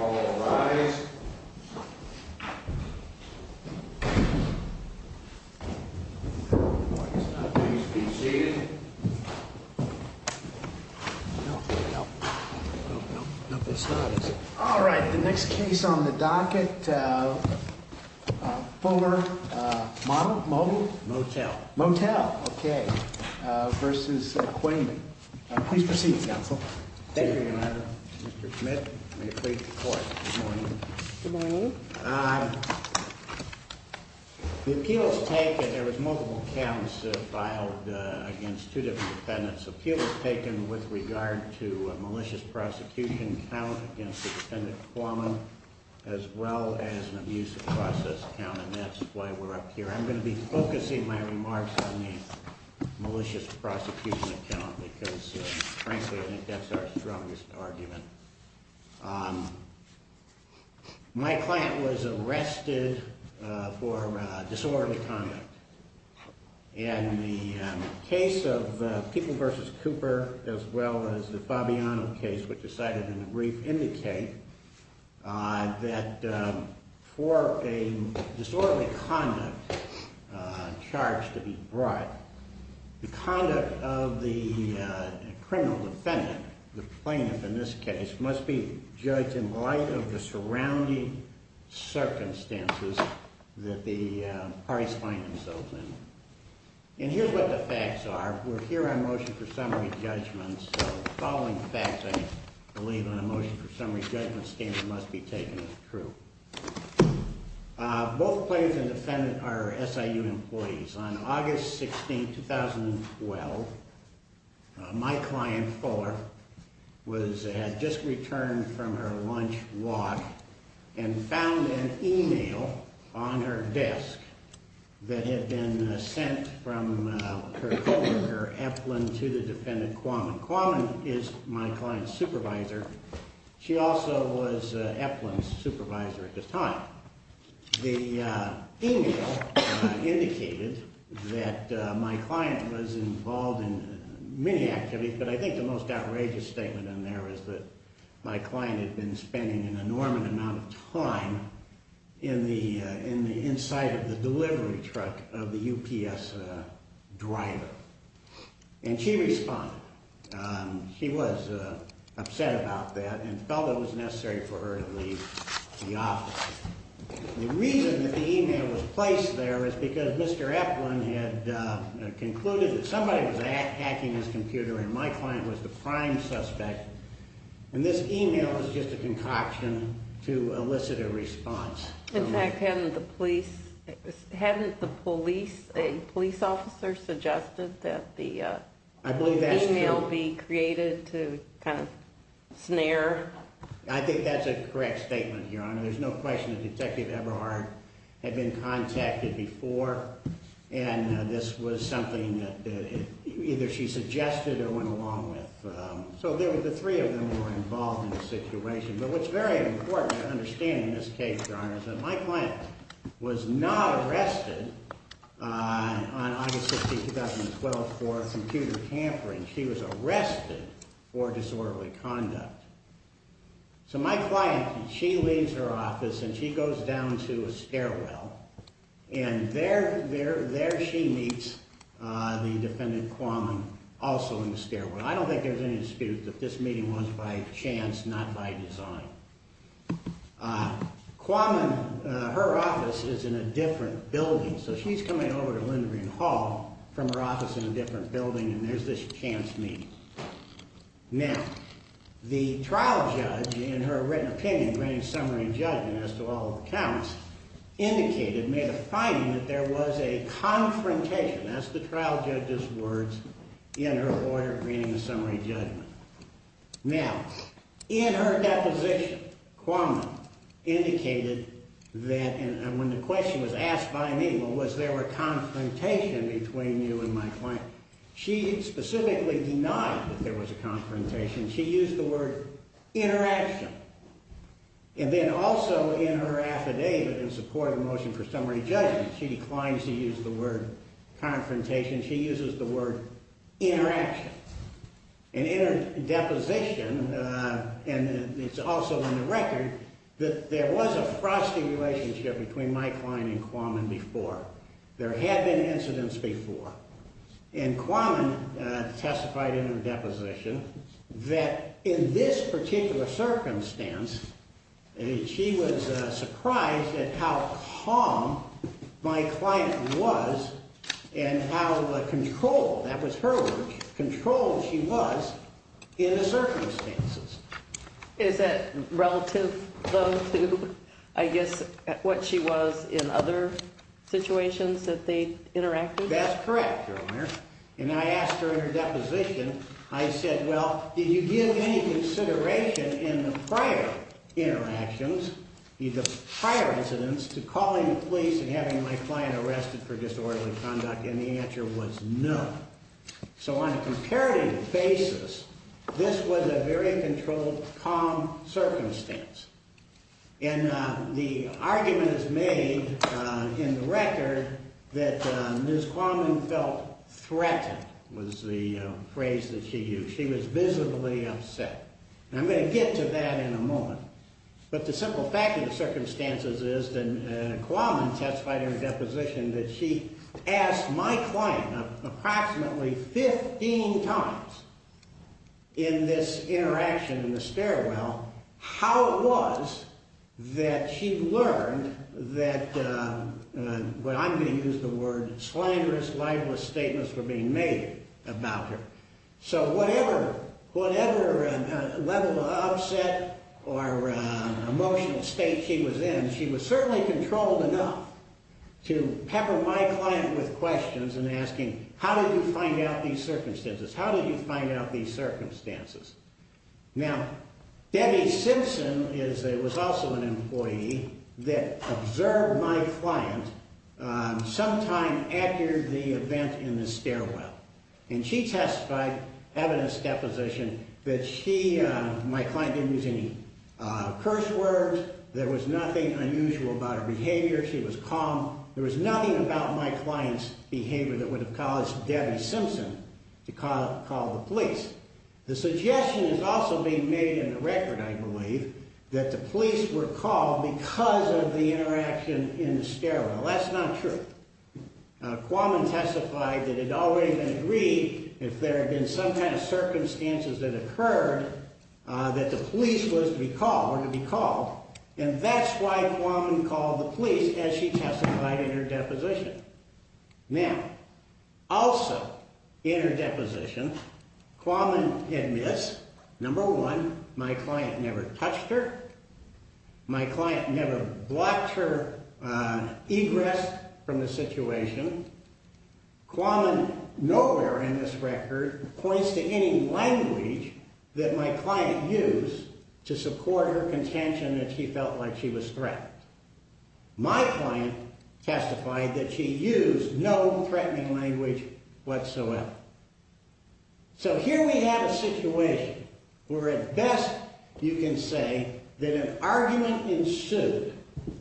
All rise. Please be seated. All right, the next case on the docket, Fuller-Moutell v. Quamen. Please proceed, Counsel. Thank you, Your Honor. Mr. Schmidt, may it please the Court. Good morning. Good morning. The appeal was taken, there was multiple counts filed against two different defendants. The appeal was taken with regard to a malicious prosecution count against the defendant Quamen, as well as an abuse of process count, and that's why we're up here. I'm going to be focusing my remarks on the malicious prosecution count, because, frankly, I think that's our strongest argument. My client was arrested for disorderly conduct. And the case of People v. Cooper, as well as the Fabiano case, which was cited in the brief, do indicate that for a disorderly conduct charge to be brought, the conduct of the criminal defendant, the plaintiff in this case, must be judged in light of the surrounding circumstances that the parties find themselves in. And here's what the facts are. We're here on motion for summary judgment, and so the following facts, I believe, on a motion for summary judgment standard must be taken as true. Both plaintiffs and defendants are SIU employees. On August 16, 2012, my client, Fuller, had just returned from her lunch walk and found an e-mail on her desk that had been sent from her coworker, Eplin, to the defendant Quamen. Quamen is my client's supervisor. She also was Eplin's supervisor at the time. The e-mail indicated that my client was involved in many activities, but I think the most outrageous statement in there is that my client had been spending an enormous amount of time in the inside of the delivery truck of the UPS driver. And she responded. She was upset about that and felt it was necessary for her to leave the office. The reason that the e-mail was placed there is because Mr. Eplin had concluded that somebody was hacking his computer and my client was the prime suspect, and this e-mail is just a concoction to elicit a response. In fact, hadn't the police, a police officer, suggested that the e-mail be created to kind of snare? I think that's a correct statement, Your Honor. There's no question that Detective Eberhard had been contacted before, and this was something that either she suggested or went along with. So the three of them were involved in the situation. But what's very important to understand in this case, Your Honor, is that my client was not arrested on August 16, 2012, for computer tampering. She was arrested for disorderly conduct. So my client, she leaves her office and she goes down to a stairwell, and there she meets the defendant, Quammen, also in the stairwell. I don't think there's any dispute that this meeting was by chance, not by design. Quammen, her office is in a different building, so she's coming over to Lindgren Hall from her office in a different building, and there's this chance meeting. Now, the trial judge, in her written opinion, as to all accounts, indicated, made a finding that there was a confrontation. That's the trial judge's words in her order of reading the summary judgment. Now, in her deposition, Quammen indicated that, and when the question was asked by me, well, was there a confrontation between you and my client, she specifically denied that there was a confrontation. She used the word interaction. And then also in her affidavit in support of the motion for summary judgment, she declines to use the word confrontation. She uses the word interaction. And in her deposition, and it's also in the record, that there was a frosty relationship between my client and Quammen before. There had been incidents before. And Quammen testified in her deposition that in this particular circumstance, she was surprised at how calm my client was and how controlled, that was her word, controlled she was in the circumstances. Is that relative, though, to, I guess, what she was in other situations that they interacted with? That's correct, Your Honor. And I asked her in her deposition, I said, well, did you give any consideration in the prior interactions, the prior incidents, to calling the police and having my client arrested for disorderly conduct? And the answer was no. So on a comparative basis, this was a very controlled, calm circumstance. And the argument is made in the record that Ms. Quammen felt threatened was the phrase that she used. She was visibly upset. And I'm going to get to that in a moment. But the simple fact of the circumstances is that Quammen testified in her deposition that she asked my client approximately 15 times in this interaction in the stairwell how it was that she learned that, I'm going to use the word, slanderous, libelous statements were being made about her. So whatever level of upset or emotional state she was in, she was certainly controlled enough to pepper my client with questions and asking, how did you find out these circumstances? How did you find out these circumstances? Now, Debbie Simpson was also an employee that observed my client sometime after the event in the stairwell. And she testified, evidence deposition, that my client didn't use any curse words. There was nothing unusual about her behavior. She was calm. There was nothing about my client's behavior that would have caused Debbie Simpson to call the police. The suggestion is also being made in the record, I believe, that the police were called because of the interaction in the stairwell. That's not true. Quammen testified that it had already been agreed if there had been some kind of circumstances that occurred that the police were to be called. And that's why Quammen called the police as she testified in her deposition. Now, also in her deposition, Quammen admits, number one, my client never touched her. My client never blocked her egress from the situation. Quammen nowhere in this record points to any language that my client used to support her contention that she felt like she was threatened. My client testified that she used no threatening language whatsoever. So here we have a situation where at best you can say that an argument ensued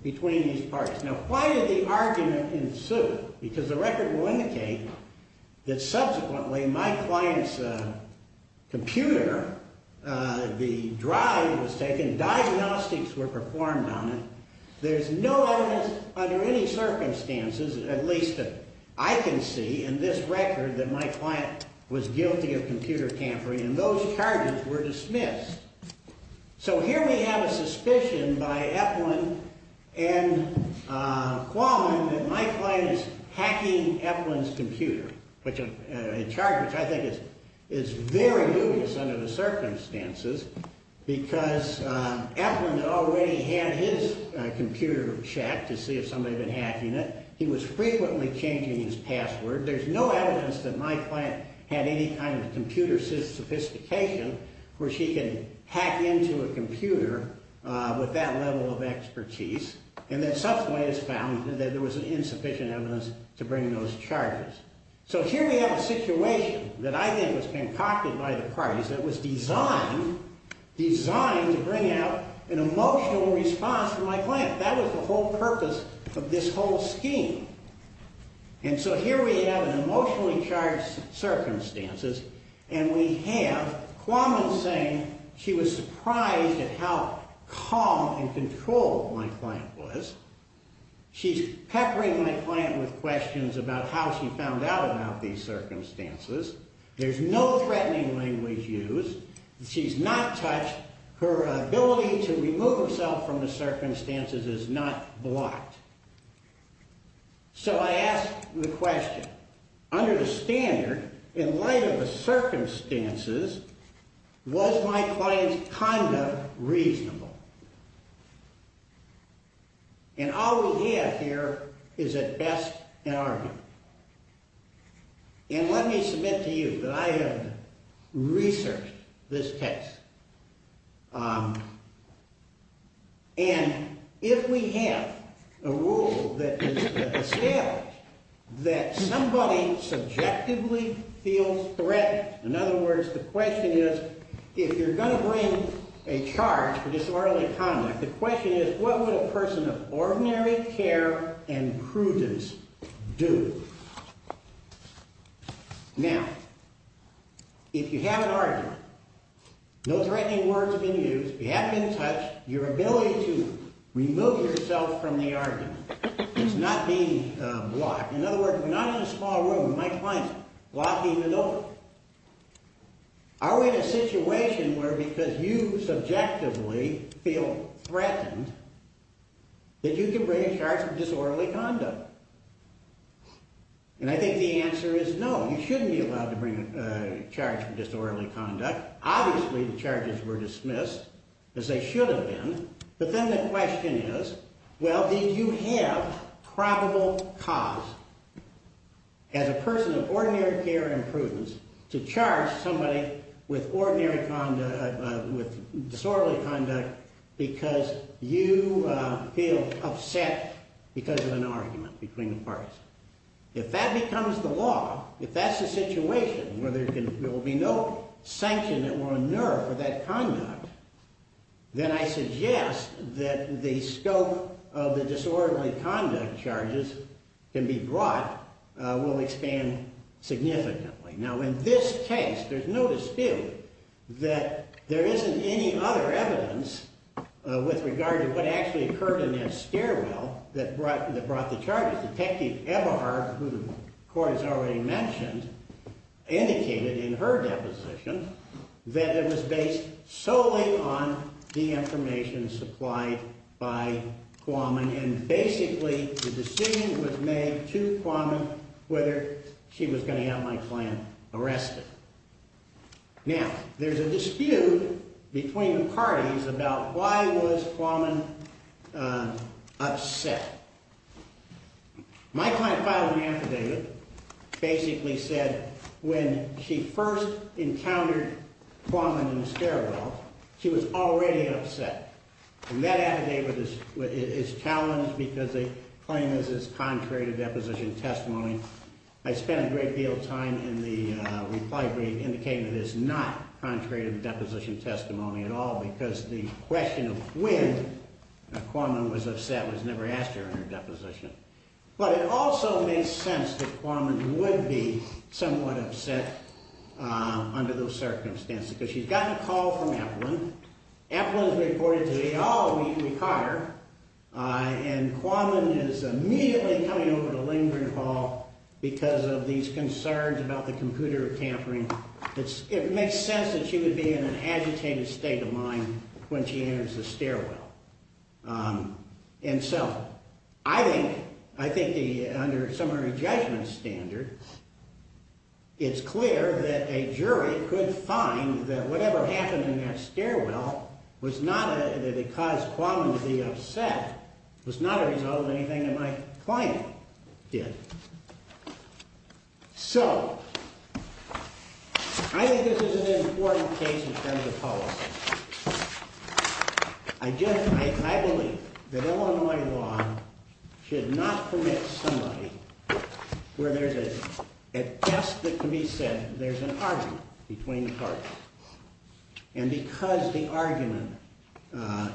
between these parties. Now, why did the argument ensue? Because the record will indicate that subsequently my client's computer, the drive was taken, diagnostics were performed on it. There's no evidence under any circumstances, at least that I can see in this record, that my client was guilty of computer tampering and those charges were dismissed. So here we have a suspicion by Epplin and Quammen that my client is hacking Epplin's computer, a charge which I think is very dubious under the circumstances, because Epplin already had his computer checked to see if somebody had been hacking it. He was frequently changing his password. There's no evidence that my client had any kind of computer sophistication where she could hack into a computer with that level of expertise. And then subsequently it's found that there was insufficient evidence to bring those charges. So here we have a situation that I think was concocted by the parties that was designed, designed to bring out an emotional response from my client. That was the whole purpose of this whole scheme. And so here we have an emotionally charged circumstances and we have Quammen saying she was surprised at how calm and controlled my client was. She's peppering my client with questions about how she found out about these circumstances. There's no threatening language used. She's not touched. Her ability to remove herself from the circumstances is not blocked. So I ask the question, under the standard, in light of the circumstances, was my client's conduct reasonable? And all we have here is at best an argument. And let me submit to you that I have researched this case. And if we have a rule that is established that somebody subjectively feels threatened, in other words, the question is, if you're going to bring a charge for disorderly conduct, the question is, what would a person of ordinary care and prudence do? Now, if you have an argument, no threatening words have been used, you haven't been touched, your ability to remove yourself from the argument is not being blocked. In other words, if you're not in a small room, my client's blocking the door. Are we in a situation where because you subjectively feel threatened, that you can bring a charge for disorderly conduct? And I think the answer is no. You shouldn't be allowed to bring a charge for disorderly conduct. Obviously, the charges were dismissed, as they should have been. But then the question is, well, did you have probable cause, as a person of ordinary care and prudence, to charge somebody with disorderly conduct because you feel upset because of an argument between the parties? If that becomes the law, if that's the situation where there will be no sanction that will inure for that conduct, then I suggest that the scope of the disorderly conduct charges can be brought, will expand significantly. Now, in this case, there's no dispute that there isn't any other evidence with regard to what actually occurred in that stairwell that brought the charges. Detective Eberhard, who the court has already mentioned, indicated in her deposition that it was based solely on the information supplied by Quammen, and basically the decision was made to Quammen whether she was going to have my client arrested. Now, there's a dispute between the parties about why was Quammen upset. My client filed an affidavit, basically said when she first encountered Quammen in the stairwell, she was already upset. And that affidavit is challenged because they claim this is contrary to deposition testimony. I spent a great deal of time in the reply brief indicating that it's not contrary to deposition testimony at all because the question of when Quammen was upset was never asked during her deposition. But it also makes sense that Quammen would be somewhat upset under those circumstances because she's gotten a call from Applin. Applin has reported to me, oh, we caught her, and Quammen is immediately coming over to Lindgren Hall because of these concerns about the computer tampering. It makes sense that she would be in an agitated state of mind when she enters the stairwell. And so I think under a summary judgment standard, it's clear that a jury could find that whatever happened in that stairwell was not that it caused Quammen to be upset, was not a result of anything that my client did. So I think this is an important case in terms of policy. I believe that Illinois law should not permit somebody where there's a test that can be said there's an argument between the parties. And because the argument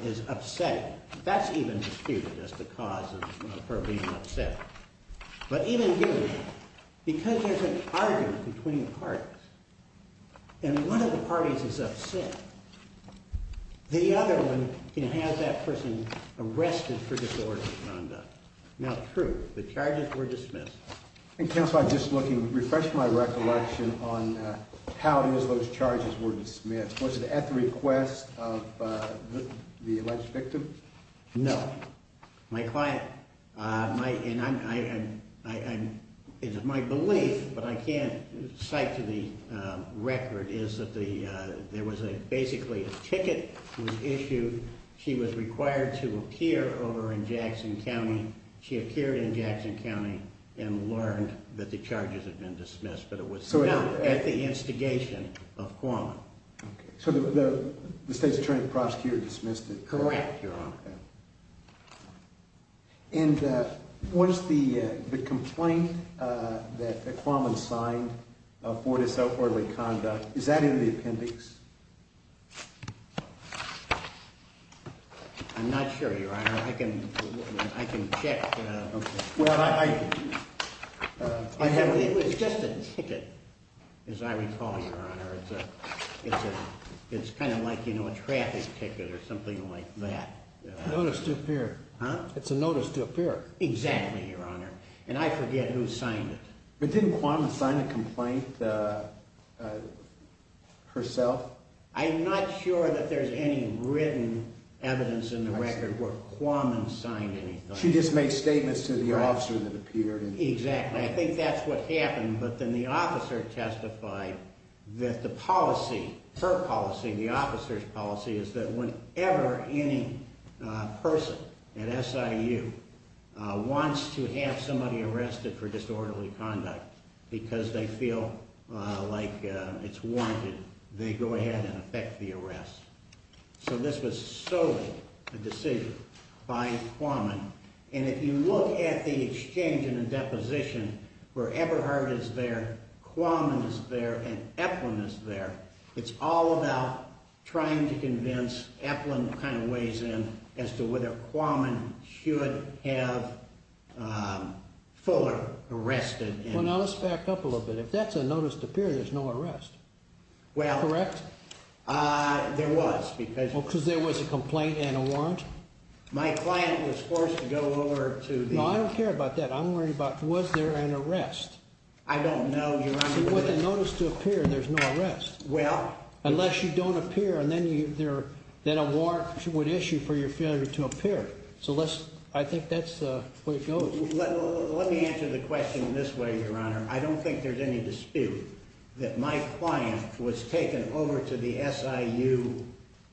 is upsetting, that's even disputed as the cause of her being upset. But even here, because there's an argument between the parties, and one of the parties is upset, the other one can have that person arrested for disorderly conduct. Now, true, the charges were dismissed. And counsel, I'm just looking, refreshing my recollection on how those charges were dismissed. Yes, was it at the request of the alleged victim? No. My client, my belief, but I can't cite to the record, is that there was basically a ticket was issued. She was required to appear over in Jackson County. She appeared in Jackson County and learned that the charges had been dismissed, but it was not at the instigation of Quammen. So the state's attorney prosecutor dismissed it. Correct, Your Honor. And what is the complaint that Quammen signed for disorderly conduct? Is that in the appendix? I'm not sure, Your Honor. I can check. Well, I have... It was just a ticket, as I recall, Your Honor. It's kind of like, you know, a traffic ticket or something like that. A notice to appear. Huh? It's a notice to appear. Exactly, Your Honor. And I forget who signed it. But didn't Quammen sign the complaint herself? I'm not sure that there's any written evidence in the record where Quammen signed anything. She just made statements to the officer that appeared. Exactly. I think that's what happened, but then the officer testified that the policy, her policy and the officer's policy, is that whenever any person at SIU wants to have somebody arrested for disorderly conduct because they feel like it's warranted, they go ahead and effect the arrest. So this was solely a decision by Quammen. And if you look at the exchange and the deposition where Eberhard is there, Quammen is there, and Eplin is there, it's all about trying to convince Eplin kind of ways in as to whether Quammen should have Fuller arrested. Well, now let's back up a little bit. Well... Correct? There was, because... Because there was a complaint and a warrant? My client was forced to go over to the... No, I don't care about that. I'm worried about was there an arrest? I don't know, Your Honor. See, with a notice to appear, there's no arrest. Well... Unless you don't appear, and then a warrant would issue for your failure to appear. So I think that's the way it goes. Let me answer the question this way, Your Honor. I don't think there's any dispute that my client was taken over to the SIU,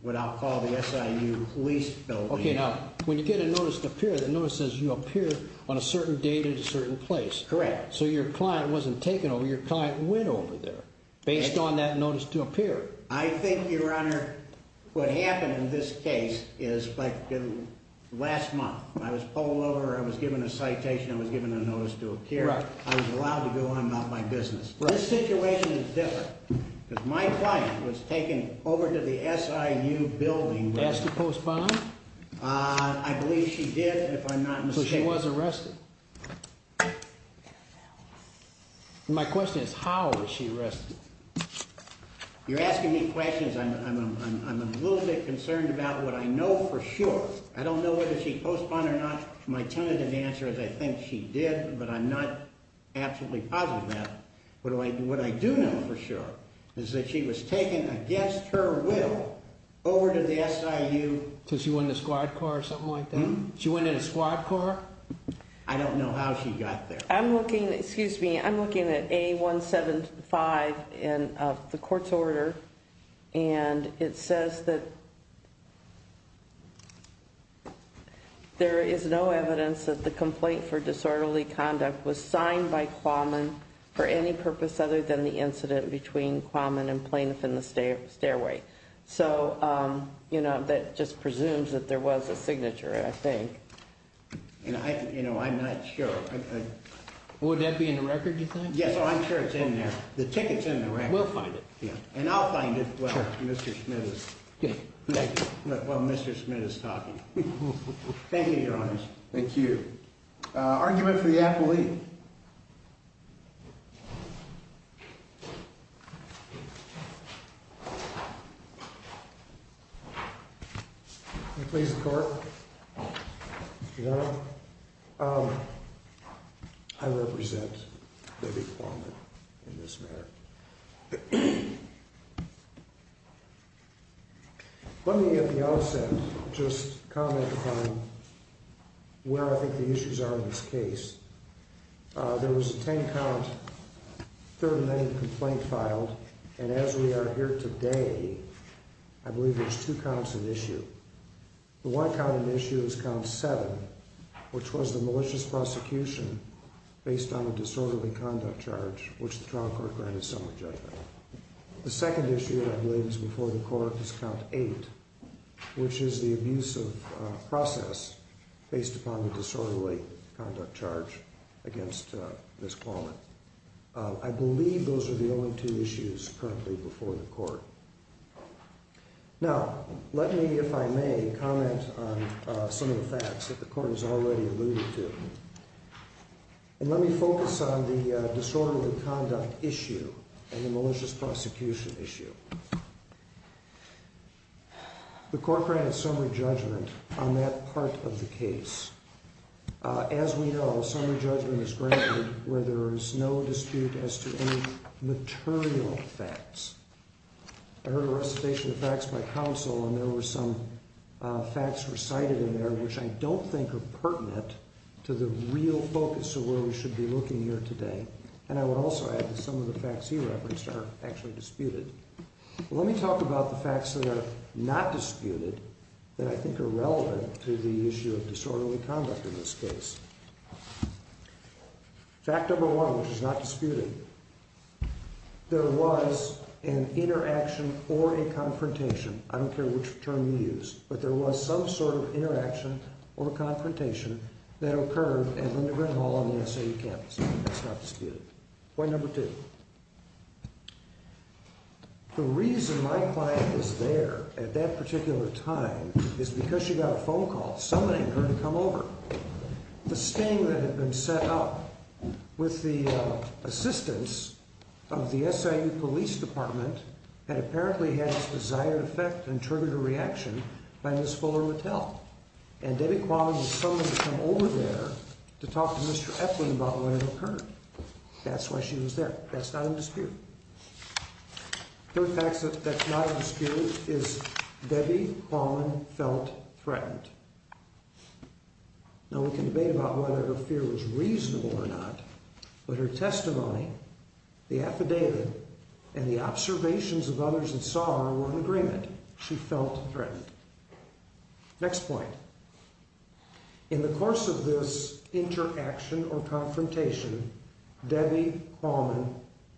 what I'll call the SIU police building. Okay, now, when you get a notice to appear, the notice says you appeared on a certain date at a certain place. Correct. So your client wasn't taken over. Your client went over there based on that notice to appear. I think, Your Honor, what happened in this case is like last month. I was polled over, I was given a citation, I was given a notice to appear. I was allowed to go on about my business. This situation is different, because my client was taken over to the SIU building. Did she ask to postpone? I believe she did, if I'm not mistaken. So she was arrested. My question is, how was she arrested? You're asking me questions. I'm a little bit concerned about what I know for sure. I don't know whether she postponed or not. My tentative answer is I think she did, but I'm not absolutely positive of that. What I do know for sure is that she was taken, against her will, over to the SIU. So she went in a squad car or something like that? She went in a squad car. I don't know how she got there. Excuse me, I'm looking at A175 in the court's order, and it says that there is no evidence that the complaint for disorderly conduct was signed by Qualman for any purpose other than the incident between Qualman and plaintiff in the stairway. So that just presumes that there was a signature, I think. I'm not sure. Would that be in the record, you think? Yes, I'm sure it's in there. The ticket's in the record. We'll find it. And I'll find it while Mr. Smith is talking. Thank you, Your Honors. Thank you. Argument for the appellee. Please, the court. Your Honor, I represent Debbie Qualman in this matter. Let me at the outset just comment upon where I think the issues are in this case. There was a 10-count, third-name complaint filed, and as we are here today, I believe there's two counts of issue. The one count of issue is count 7, which was the malicious prosecution based on a disorderly conduct charge, which the trial court granted summary judgment. The second issue that I believe is before the court is count 8, which is the abusive process based upon the disorderly conduct charge against Ms. Qualman. I believe those are the only two issues currently before the court. Now, let me, if I may, comment on some of the facts that the court has already alluded to. And let me focus on the disorderly conduct issue and the malicious prosecution issue. The court granted summary judgment on that part of the case. As we know, summary judgment is granted where there is no dispute as to any material facts. I heard a recitation of facts by counsel, and there were some facts recited in there which I don't think are pertinent to the real focus of where we should be looking here today. And I would also add that some of the facts he referenced are actually disputed. Let me talk about the facts that are not disputed that I think are relevant to the issue of disorderly conduct in this case. Fact number one, which is not disputed, there was an interaction or a confrontation, I don't care which term you use, but there was some sort of interaction or confrontation that occurred at Lindgren Hall on the SIU campus. That's not disputed. Point number two, the reason my client is there at that particular time is because she got a phone call summoning her to come over. The sting that had been set up with the assistance of the SIU Police Department had apparently had its desired effect and triggered a reaction by Ms. Fuller Mattel. And Debbie Qualman was summoned to come over there to talk to Mr. Epling about what had occurred. That's why she was there. That's not in dispute. Third fact that's not in dispute is Debbie Qualman felt threatened. Now, we can debate about whether her fear was reasonable or not, but her testimony, the affidavit, and the observations of others that saw her were in agreement. She felt threatened. Next point. In the course of this interaction or confrontation, Debbie Qualman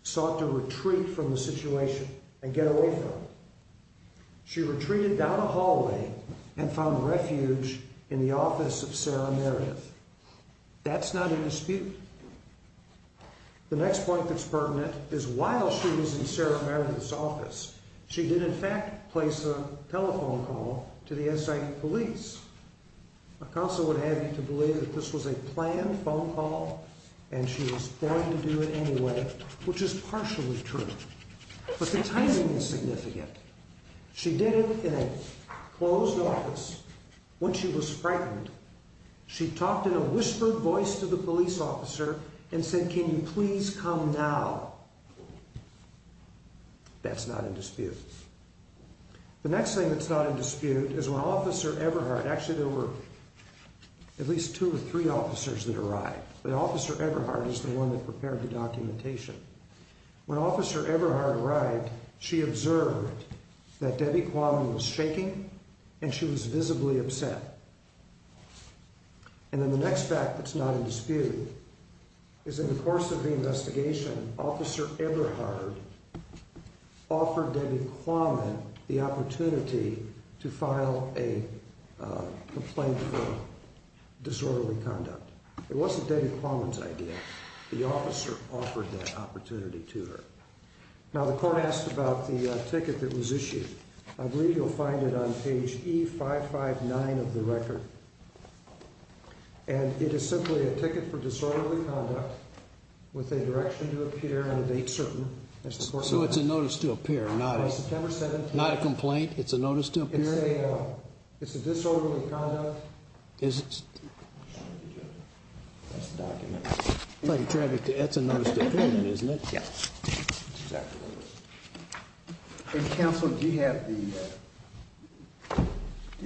sought to retreat from the situation and get away from it. She retreated down a hallway and found refuge in the office of Sarah Meredith. That's not in dispute. The next point that's pertinent is while she was in Sarah Meredith's office, she did in fact place a telephone call to the SIU Police. My counsel would have you to believe that this was a planned phone call and she was going to do it anyway, which is partially true. But the timing is significant. She did it in a closed office when she was pregnant. She talked in a whispered voice to the police officer and said, can you please come now? That's not in dispute. The next thing that's not in dispute is when Officer Eberhardt, actually there were at least two or three officers that arrived, but Officer Eberhardt is the one that prepared the documentation. When Officer Eberhardt arrived, she observed that Debbie Qualman was shaking and she was visibly upset. And then the next fact that's not in dispute is in the course of the investigation, Officer Eberhardt offered Debbie Qualman the opportunity to file a complaint for disorderly conduct. It wasn't Debbie Qualman's idea. The officer offered that opportunity to her. Now the court asked about the ticket that was issued. I believe you'll find it on page E559 of the record. And it is simply a ticket for disorderly conduct with a direction to appear and a date certain. So it's a notice to appear, not a complaint? It's a notice to appear? It's a disorderly conduct. That's the document. That's a notice to appear, isn't it? Yes. It's exactly what it is. Counsel, do you have the...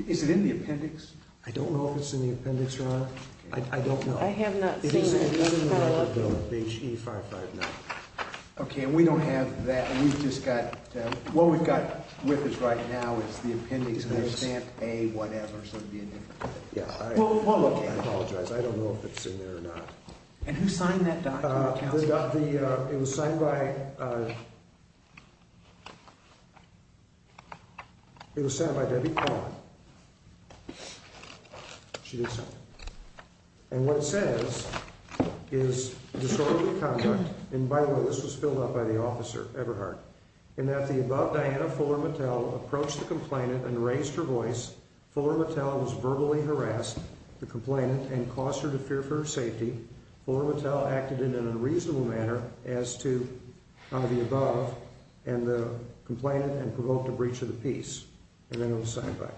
Is it in the appendix? I don't know if it's in the appendix, Your Honor. I don't know. I have not seen it. Page E559. Okay, and we don't have that. We've just got... What we've got with us right now is the appendix. I understand A, whatever, so it would be a different thing. Well, look, I apologize. I don't know if it's in there or not. And who signed that document, Counsel? It was signed by... It was signed by Debbie Palmer. She did sign it. And what it says is disorderly conduct, and by the way, this was filled out by the officer, Everhart, in that the above Diana Fuller Mattel approached the complainant and raised her voice. Fuller Mattel was verbally harassed, the complainant, and caused her to fear for her safety. Fuller Mattel acted in an unreasonable manner as to the above, and the complainant, and provoked a breach of the peace. And then it was signed by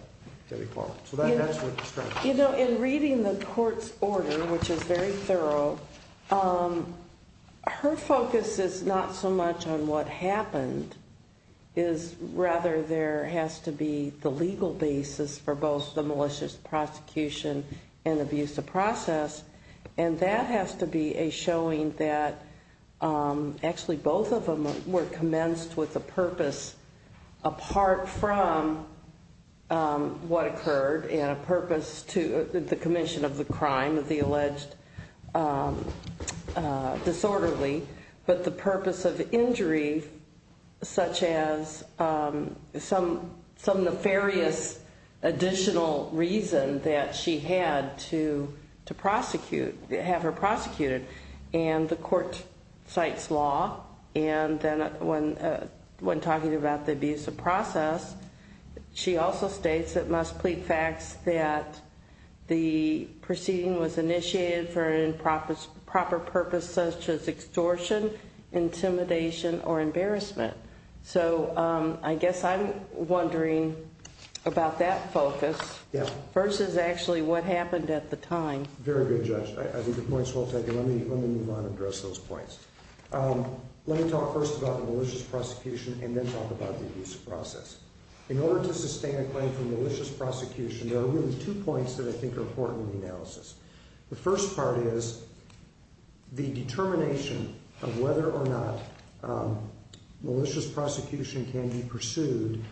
Debbie Palmer. So that's what the structure is. You know, in reading the court's order, which is very thorough, her focus is not so much on what happened, it is rather there has to be the legal basis for both the malicious prosecution and abusive process, and that has to be a showing that actually both of them were commenced with a purpose apart from what occurred, and a purpose to the commission of the crime of the alleged disorderly, but the purpose of injury, such as some nefarious additional reason that she had to prosecute, have her prosecuted. And the court cites law, and then when talking about the abusive process, she also states it must plead facts that the proceeding was initiated for a proper purpose such as extortion, intimidation, or embarrassment. So I guess I'm wondering about that focus versus actually what happened at the time. Very good, Judge. I think the point's well taken. Let me move on and address those points. Let me talk first about the malicious prosecution and then talk about the abusive process. In order to sustain a claim for malicious prosecution, there are really two points that I think are important in the analysis. The first part is the determination of whether or not malicious prosecution can be pursued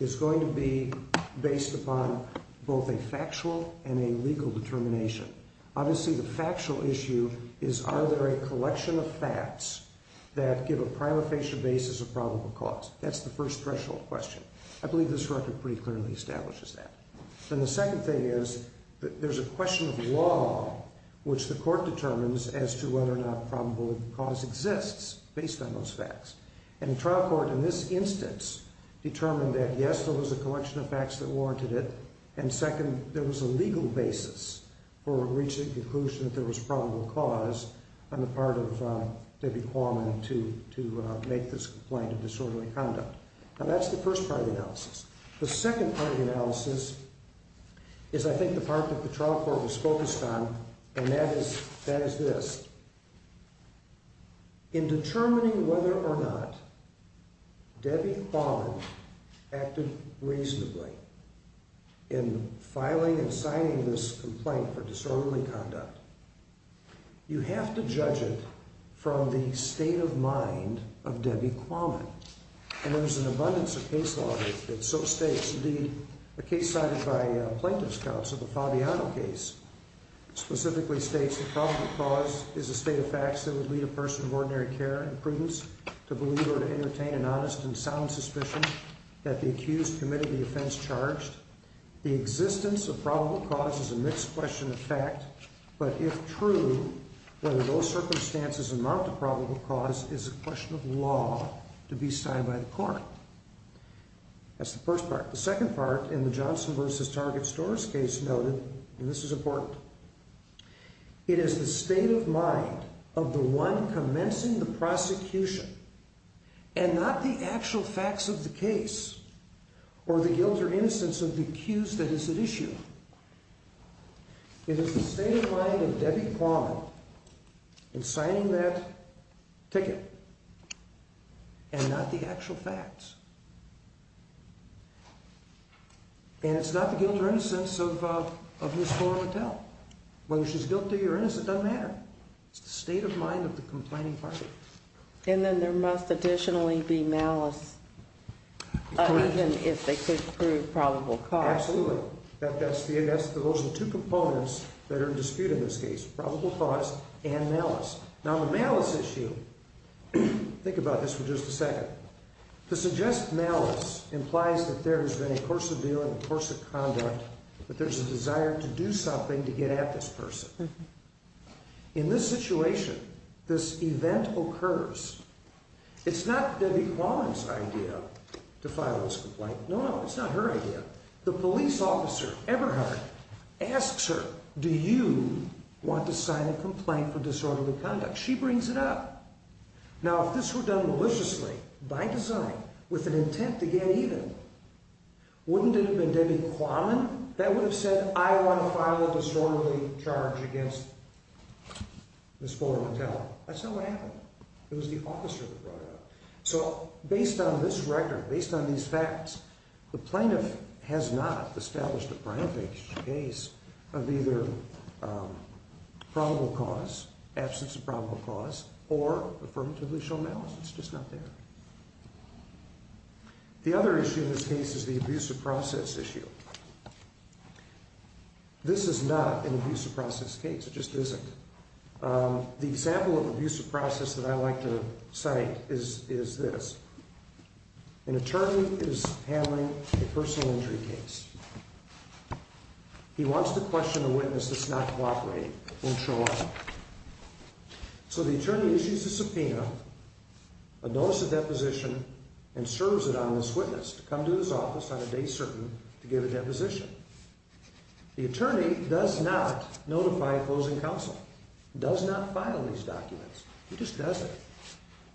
is going to be based upon both a factual and a legal determination. Obviously the factual issue is are there a collection of facts that give a prima facie basis of probable cause. That's the first threshold question. I believe this record pretty clearly establishes that. Then the second thing is there's a question of law which the court determines as to whether or not probable cause exists based on those facts. And the trial court in this instance determined that, yes, there was a collection of facts that warranted it, and second, there was a legal basis for reaching a conclusion that there was probable cause on the part of Debbie Quammen to make this complaint of disorderly conduct. Now that's the first part of the analysis. The second part of the analysis is I think the part that the trial court was focused on, and that is this. In determining whether or not Debbie Quammen acted reasonably in filing and signing this complaint for disorderly conduct, you have to judge it from the state of mind of Debbie Quammen. And there's an abundance of case law that so states. Indeed, a case cited by plaintiff's counsel, the Fabiano case, specifically states that probable cause is a state of facts that would lead a person of ordinary care and prudence to believe or to entertain an honest and sound suspicion that the accused committed the offense charged. The existence of probable cause is a mixed question of fact, but if true, whether those circumstances amount to probable cause is a question of law to be signed by the court. That's the first part. The second part in the Johnson v. Target stores case noted, and this is important, it is the state of mind of the one commencing the prosecution and not the actual facts of the case or the guilt or innocence of the accused that is at issue. It is the state of mind of Debbie Quammen in signing that ticket and not the actual facts. And it's not the guilt or innocence of his store or motel. Whether she's guilty or innocent doesn't matter. It's the state of mind of the complaining party. And then there must additionally be malice, even if they could prove probable cause. Absolutely. Those are the two components that are in dispute in this case, probable cause and malice. Now, the malice issue, think about this for just a second. To suggest malice implies that there has been a course of view and a course of conduct that there's a desire to do something to get at this person. In this situation, this event occurs. It's not Debbie Quammen's idea to file this complaint. No, it's not her idea. The police officer, Eberhardt, asks her, do you want to sign a complaint for disorderly conduct? She brings it up. Now, if this were done maliciously, by design, with an intent to get even, wouldn't it have been Debbie Quammen that would have said, I want to file a disorderly charge against Ms. Fuller Motel? That's not what happened. It was the officer that brought it up. So based on this record, based on these facts, the plaintiff has not established a prime case of either probable cause, absence of probable cause, or affirmatively shown malice. It's just not there. The other issue in this case is the abuse of process issue. This is not an abuse of process case. It just isn't. The example of abuse of process that I like to cite is this. An attorney is handling a personal injury case. He wants to question a witness that's not cooperating and show up. So the attorney issues a subpoena, a notice of deposition, and serves it on this witness to come to his office on a day certain to give a deposition. The attorney does not notify a closing counsel, does not file these documents. He just does it.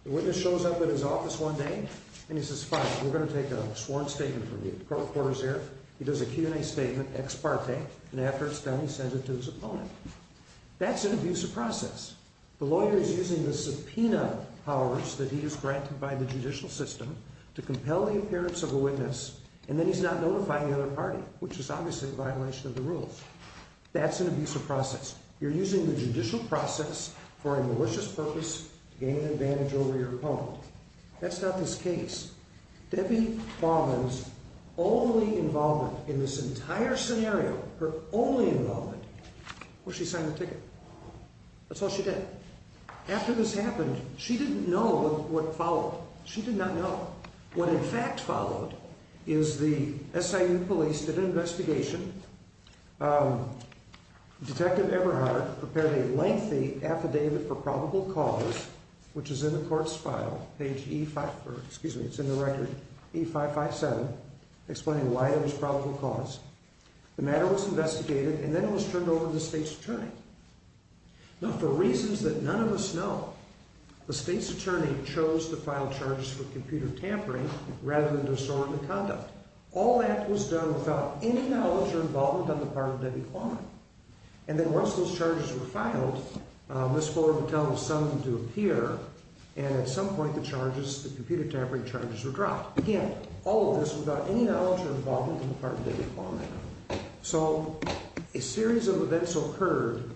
The witness shows up at his office one day, and he says, fine, we're going to take a sworn statement from you. The court reporter's here. He does a Q&A statement, ex parte, and after it's done, he sends it to his opponent. That's an abuse of process. The lawyer is using the subpoena powers that he is granted by the judicial system to compel the appearance of a witness, and then he's not notifying the other party, which is obviously a violation of the rules. That's an abuse of process. You're using the judicial process for a malicious purpose to gain an advantage over your opponent. That's not this case. Debbie Baumann's only involvement in this entire scenario, her only involvement, was she signed the ticket. That's all she did. After this happened, she didn't know what followed. She did not know. What, in fact, followed is the SIU police did an investigation. Detective Eberhardt prepared a lengthy affidavit for probable cause, which is in the court's file, page E557, explaining why it was probable cause. The matter was investigated, and then it was turned over to the state's attorney. Now, for reasons that none of us know, the state's attorney chose to file charges for computer tampering rather than disorderly conduct. All that was done without any knowledge or involvement on the part of Debbie Baumann. And then once those charges were filed, Ms. Fuller would tell the sum to appear, and at some point the charges, the computer tampering charges, were dropped. Again, all of this without any knowledge or involvement on the part of Debbie Baumann. So, a series of events occurred,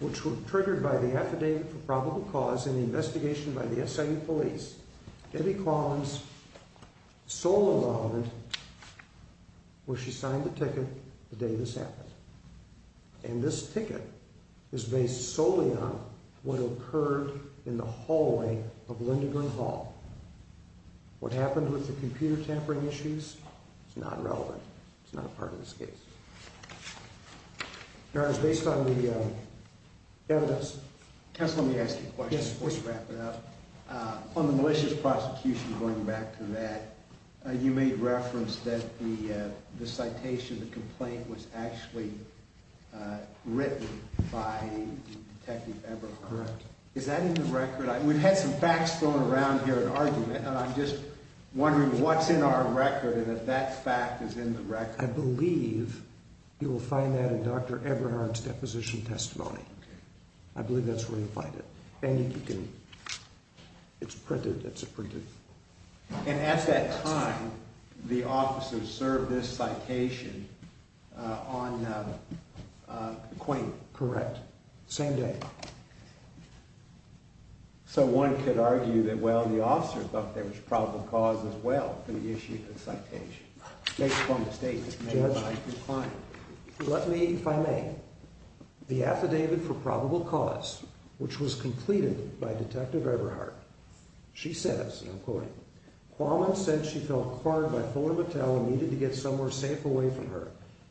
which were triggered by the affidavit for probable cause and the investigation by the SIU police. Debbie Baumann's sole involvement was she signed the ticket the day this happened. And this ticket is based solely on what occurred in the hallway of Lindgren Hall. What happened with the computer tampering issues is not relevant. It's not a part of this case. Your Honor, it's based on the evidence. Counsel, let me ask you a question before we wrap it up. On the malicious prosecution, going back to that, you made reference that the citation, the complaint was actually written by Detective Eberhart. Correct. Is that in the record? We've had some facts thrown around here in argument, and I'm just wondering what's in our record that that fact is in the record. I believe you will find that in Dr. Eberhart's deposition testimony. I believe that's where you'll find it. And you can, it's printed, it's printed. And at that time, the officers served this citation on the complaint. Correct. Same day. So one could argue that, well, the officers thought there was probable cause as well for the issue of the citation. Based on the statement made by the client. Judge, let me, if I may, the affidavit for probable cause, which was completed by Detective Eberhart, she says, and I'm quoting, Quammen said she felt cornered by Fuller Mattel and needed to get somewhere safe away from her.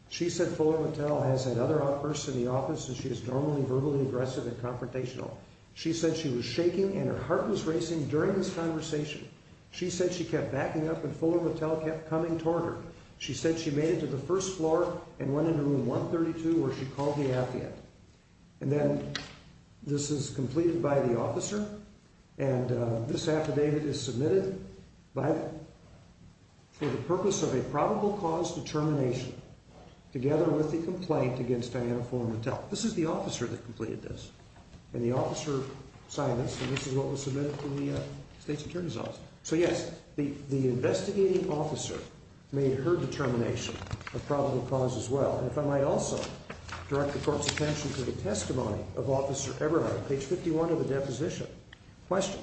She said Fuller Mattel has had other outbursts in the office and she is normally verbally aggressive and confrontational. She said she was shaking and her heart was racing during this conversation. She said she kept backing up and Fuller Mattel kept coming toward her. She said she made it to the first floor and went into room 132 where she called the affidavit. And then this is completed by the officer. And this affidavit is submitted for the purpose of a probable cause determination together with the complaint against Diana Fuller Mattel. This is the officer that completed this. And the officer signed this and this is what was submitted to the state's attorney's office. So, yes, the investigating officer made her determination of probable cause as well. And if I might also direct the court's attention to the testimony of Officer Eberhart, page 51 of the deposition. Question.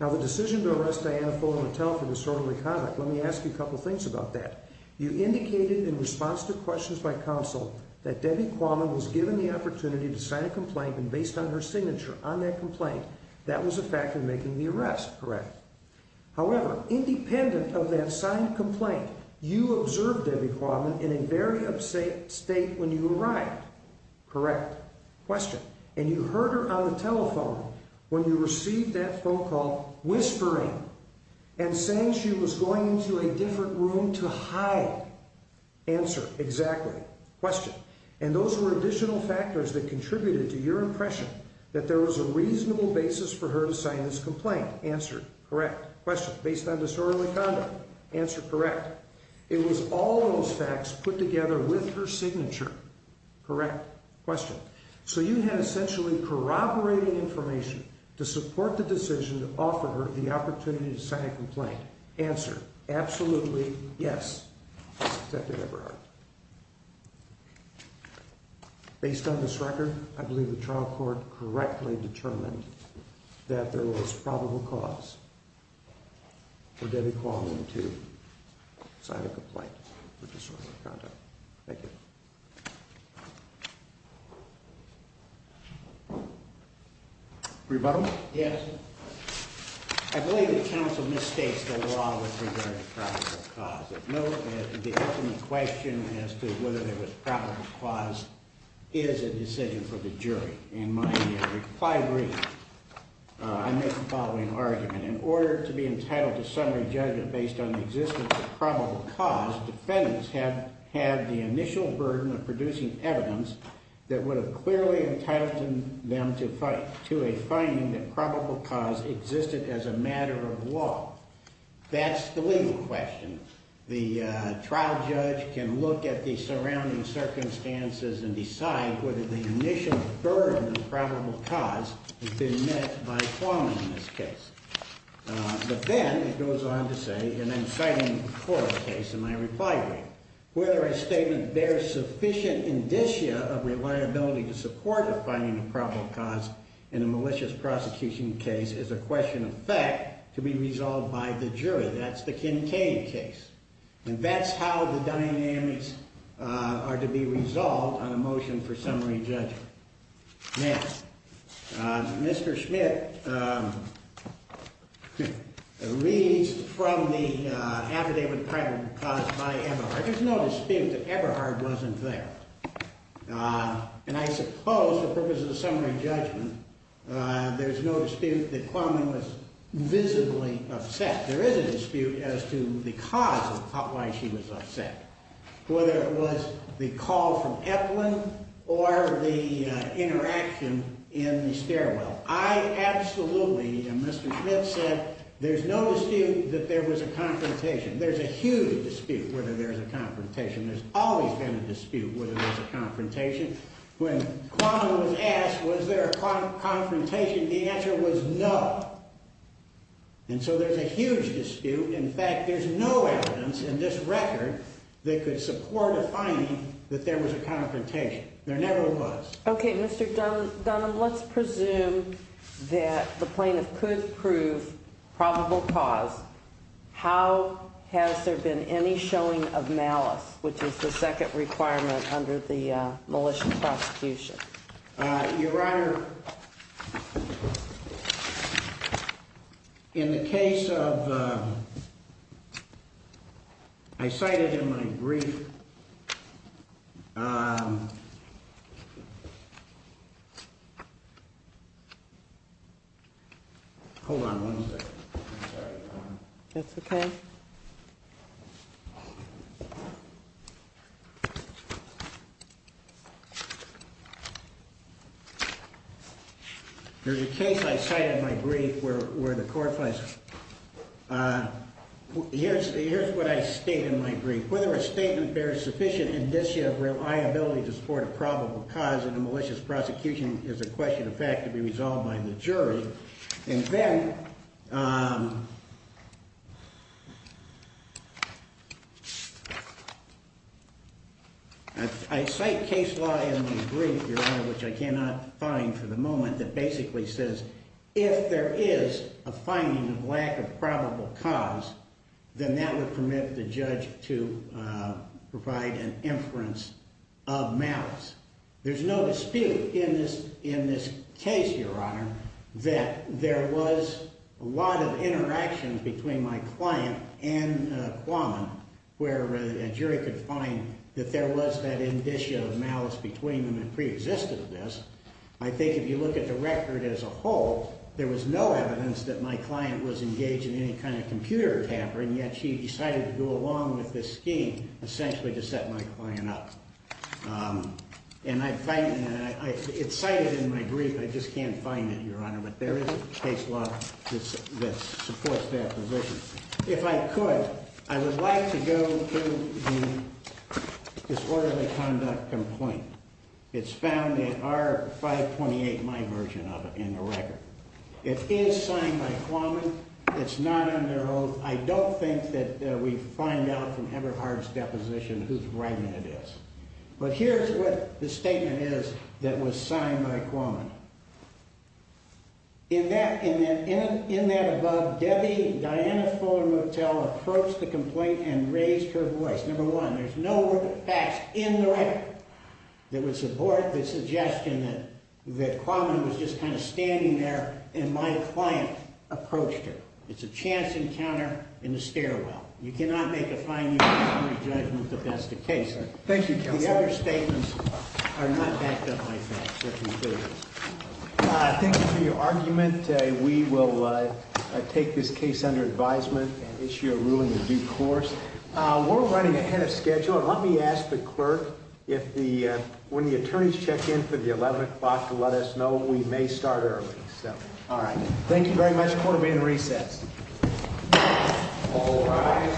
Now, the decision to arrest Diana Fuller Mattel for disorderly conduct, let me ask you a couple things about that. You indicated in response to questions by counsel that Debbie Quammen was given the opportunity to sign a complaint and based on her signature on that complaint, that was a factor in making the arrest, correct? However, independent of that signed complaint, you observed Debbie Quammen in a very upset state when you arrived, correct? Question. And you heard her on the telephone when you received that phone call whispering and saying she was going into a different room to hide. Answer. Exactly. Question. And those were additional factors that contributed to your impression that there was a reasonable basis for her to sign this complaint. Answer. Correct. Question. Based on disorderly conduct. Answer. Correct. It was all those facts put together with her signature. Correct. Question. So you had essentially corroborated information to support the decision to offer her the opportunity to sign a complaint. Answer. Absolutely, yes, Detective Eberhart. Based on this record, I believe the trial court correctly determined that there was probable cause for Debbie Quammen to sign a complaint for disorderly conduct. Thank you. Rebuttal? Yes. I believe the counsel misstates the law with regard to probable cause. Note that the ultimate question as to whether there was probable cause is a decision for the jury. In my inquiry, I make the following argument. In order to be entitled to summary judgment based on the existence of probable cause, defendants have had the initial burden of producing evidence that would have clearly entitled them to a finding that probable cause existed as a matter of law. That's the legal question. The trial judge can look at the surrounding circumstances and decide whether the initial burden of probable cause has been met by Quammen in this case. But then it goes on to say, and I'm citing the court case in my reply brief, whether a statement bears sufficient indicia of reliability to support a finding of probable cause in a malicious prosecution case is a question of fact to be resolved by the jury. That's the Kincaid case. And that's how the dynamics are to be resolved on a motion for summary judgment. Now, Mr. Schmidt reads from the affidavit of probable cause by Eberhardt. There's no dispute that Eberhardt wasn't there. And I suppose, for purposes of summary judgment, there's no dispute that Quammen was visibly upset. There is a dispute as to the cause of why she was upset, whether it was the call from Eplin or the interaction in the stairwell. I absolutely, and Mr. Schmidt said, there's no dispute that there was a confrontation. There's a huge dispute whether there's a confrontation. There's always been a dispute whether there's a confrontation. When Quammen was asked, was there a confrontation, the answer was no. And so there's a huge dispute. In fact, there's no evidence in this record that could support a finding that there was a confrontation. There never was. Okay, Mr. Dunham, let's presume that the plaintiff could prove probable cause. How has there been any showing of malice, which is the second requirement under the malicious prosecution? Your Honor, in the case of, I cited in my brief, hold on one second. That's okay. There's a case I cited in my brief where the court finds, here's what I state in my brief. Whether a statement bears sufficient indicia of reliability to support a probable cause in a malicious prosecution is a question of fact to be resolved by the jury. And then I cite case law in my brief, Your Honor, which I cannot find for the moment, that basically says if there is a finding of lack of probable cause, then that would permit the judge to provide an inference of malice. There's no dispute in this case, Your Honor, that there was a lot of interactions between my client and Quammen where a jury could find that there was that indicia of malice between them that preexisted in this. I think if you look at the record as a whole, there was no evidence that my client was engaged in any kind of computer tampering, yet she decided to go along with this scheme, essentially to set my client up. And it's cited in my brief, I just can't find it, Your Honor, but there is case law that supports that position. If I could, I would like to go to the disorderly conduct complaint. It's found in R-528, my version of it, in the record. It is signed by Quammen. It's not under oath. I don't think that we find out from Everhart's deposition whose writing it is. But here's what the statement is that was signed by Quammen. In that above, Debbie Diana Fuller Motel approached the complaint and raised her voice. Number one, there's no word that passed in the record that would support the suggestion that Quammen was just kind of standing there and my client approached her. It's a chance encounter in the stairwell. You cannot make a fine judgment that that's the case. Thank you, Counselor. The other statements are not backed up by facts. Thank you for your argument. We will take this case under advisement and issue a ruling in due course. We're running ahead of schedule. Let me ask the clerk, when the attorneys check in for the 11 o'clock, to let us know. We may start early. All right. Thank you very much. Court will be in recess. All rise.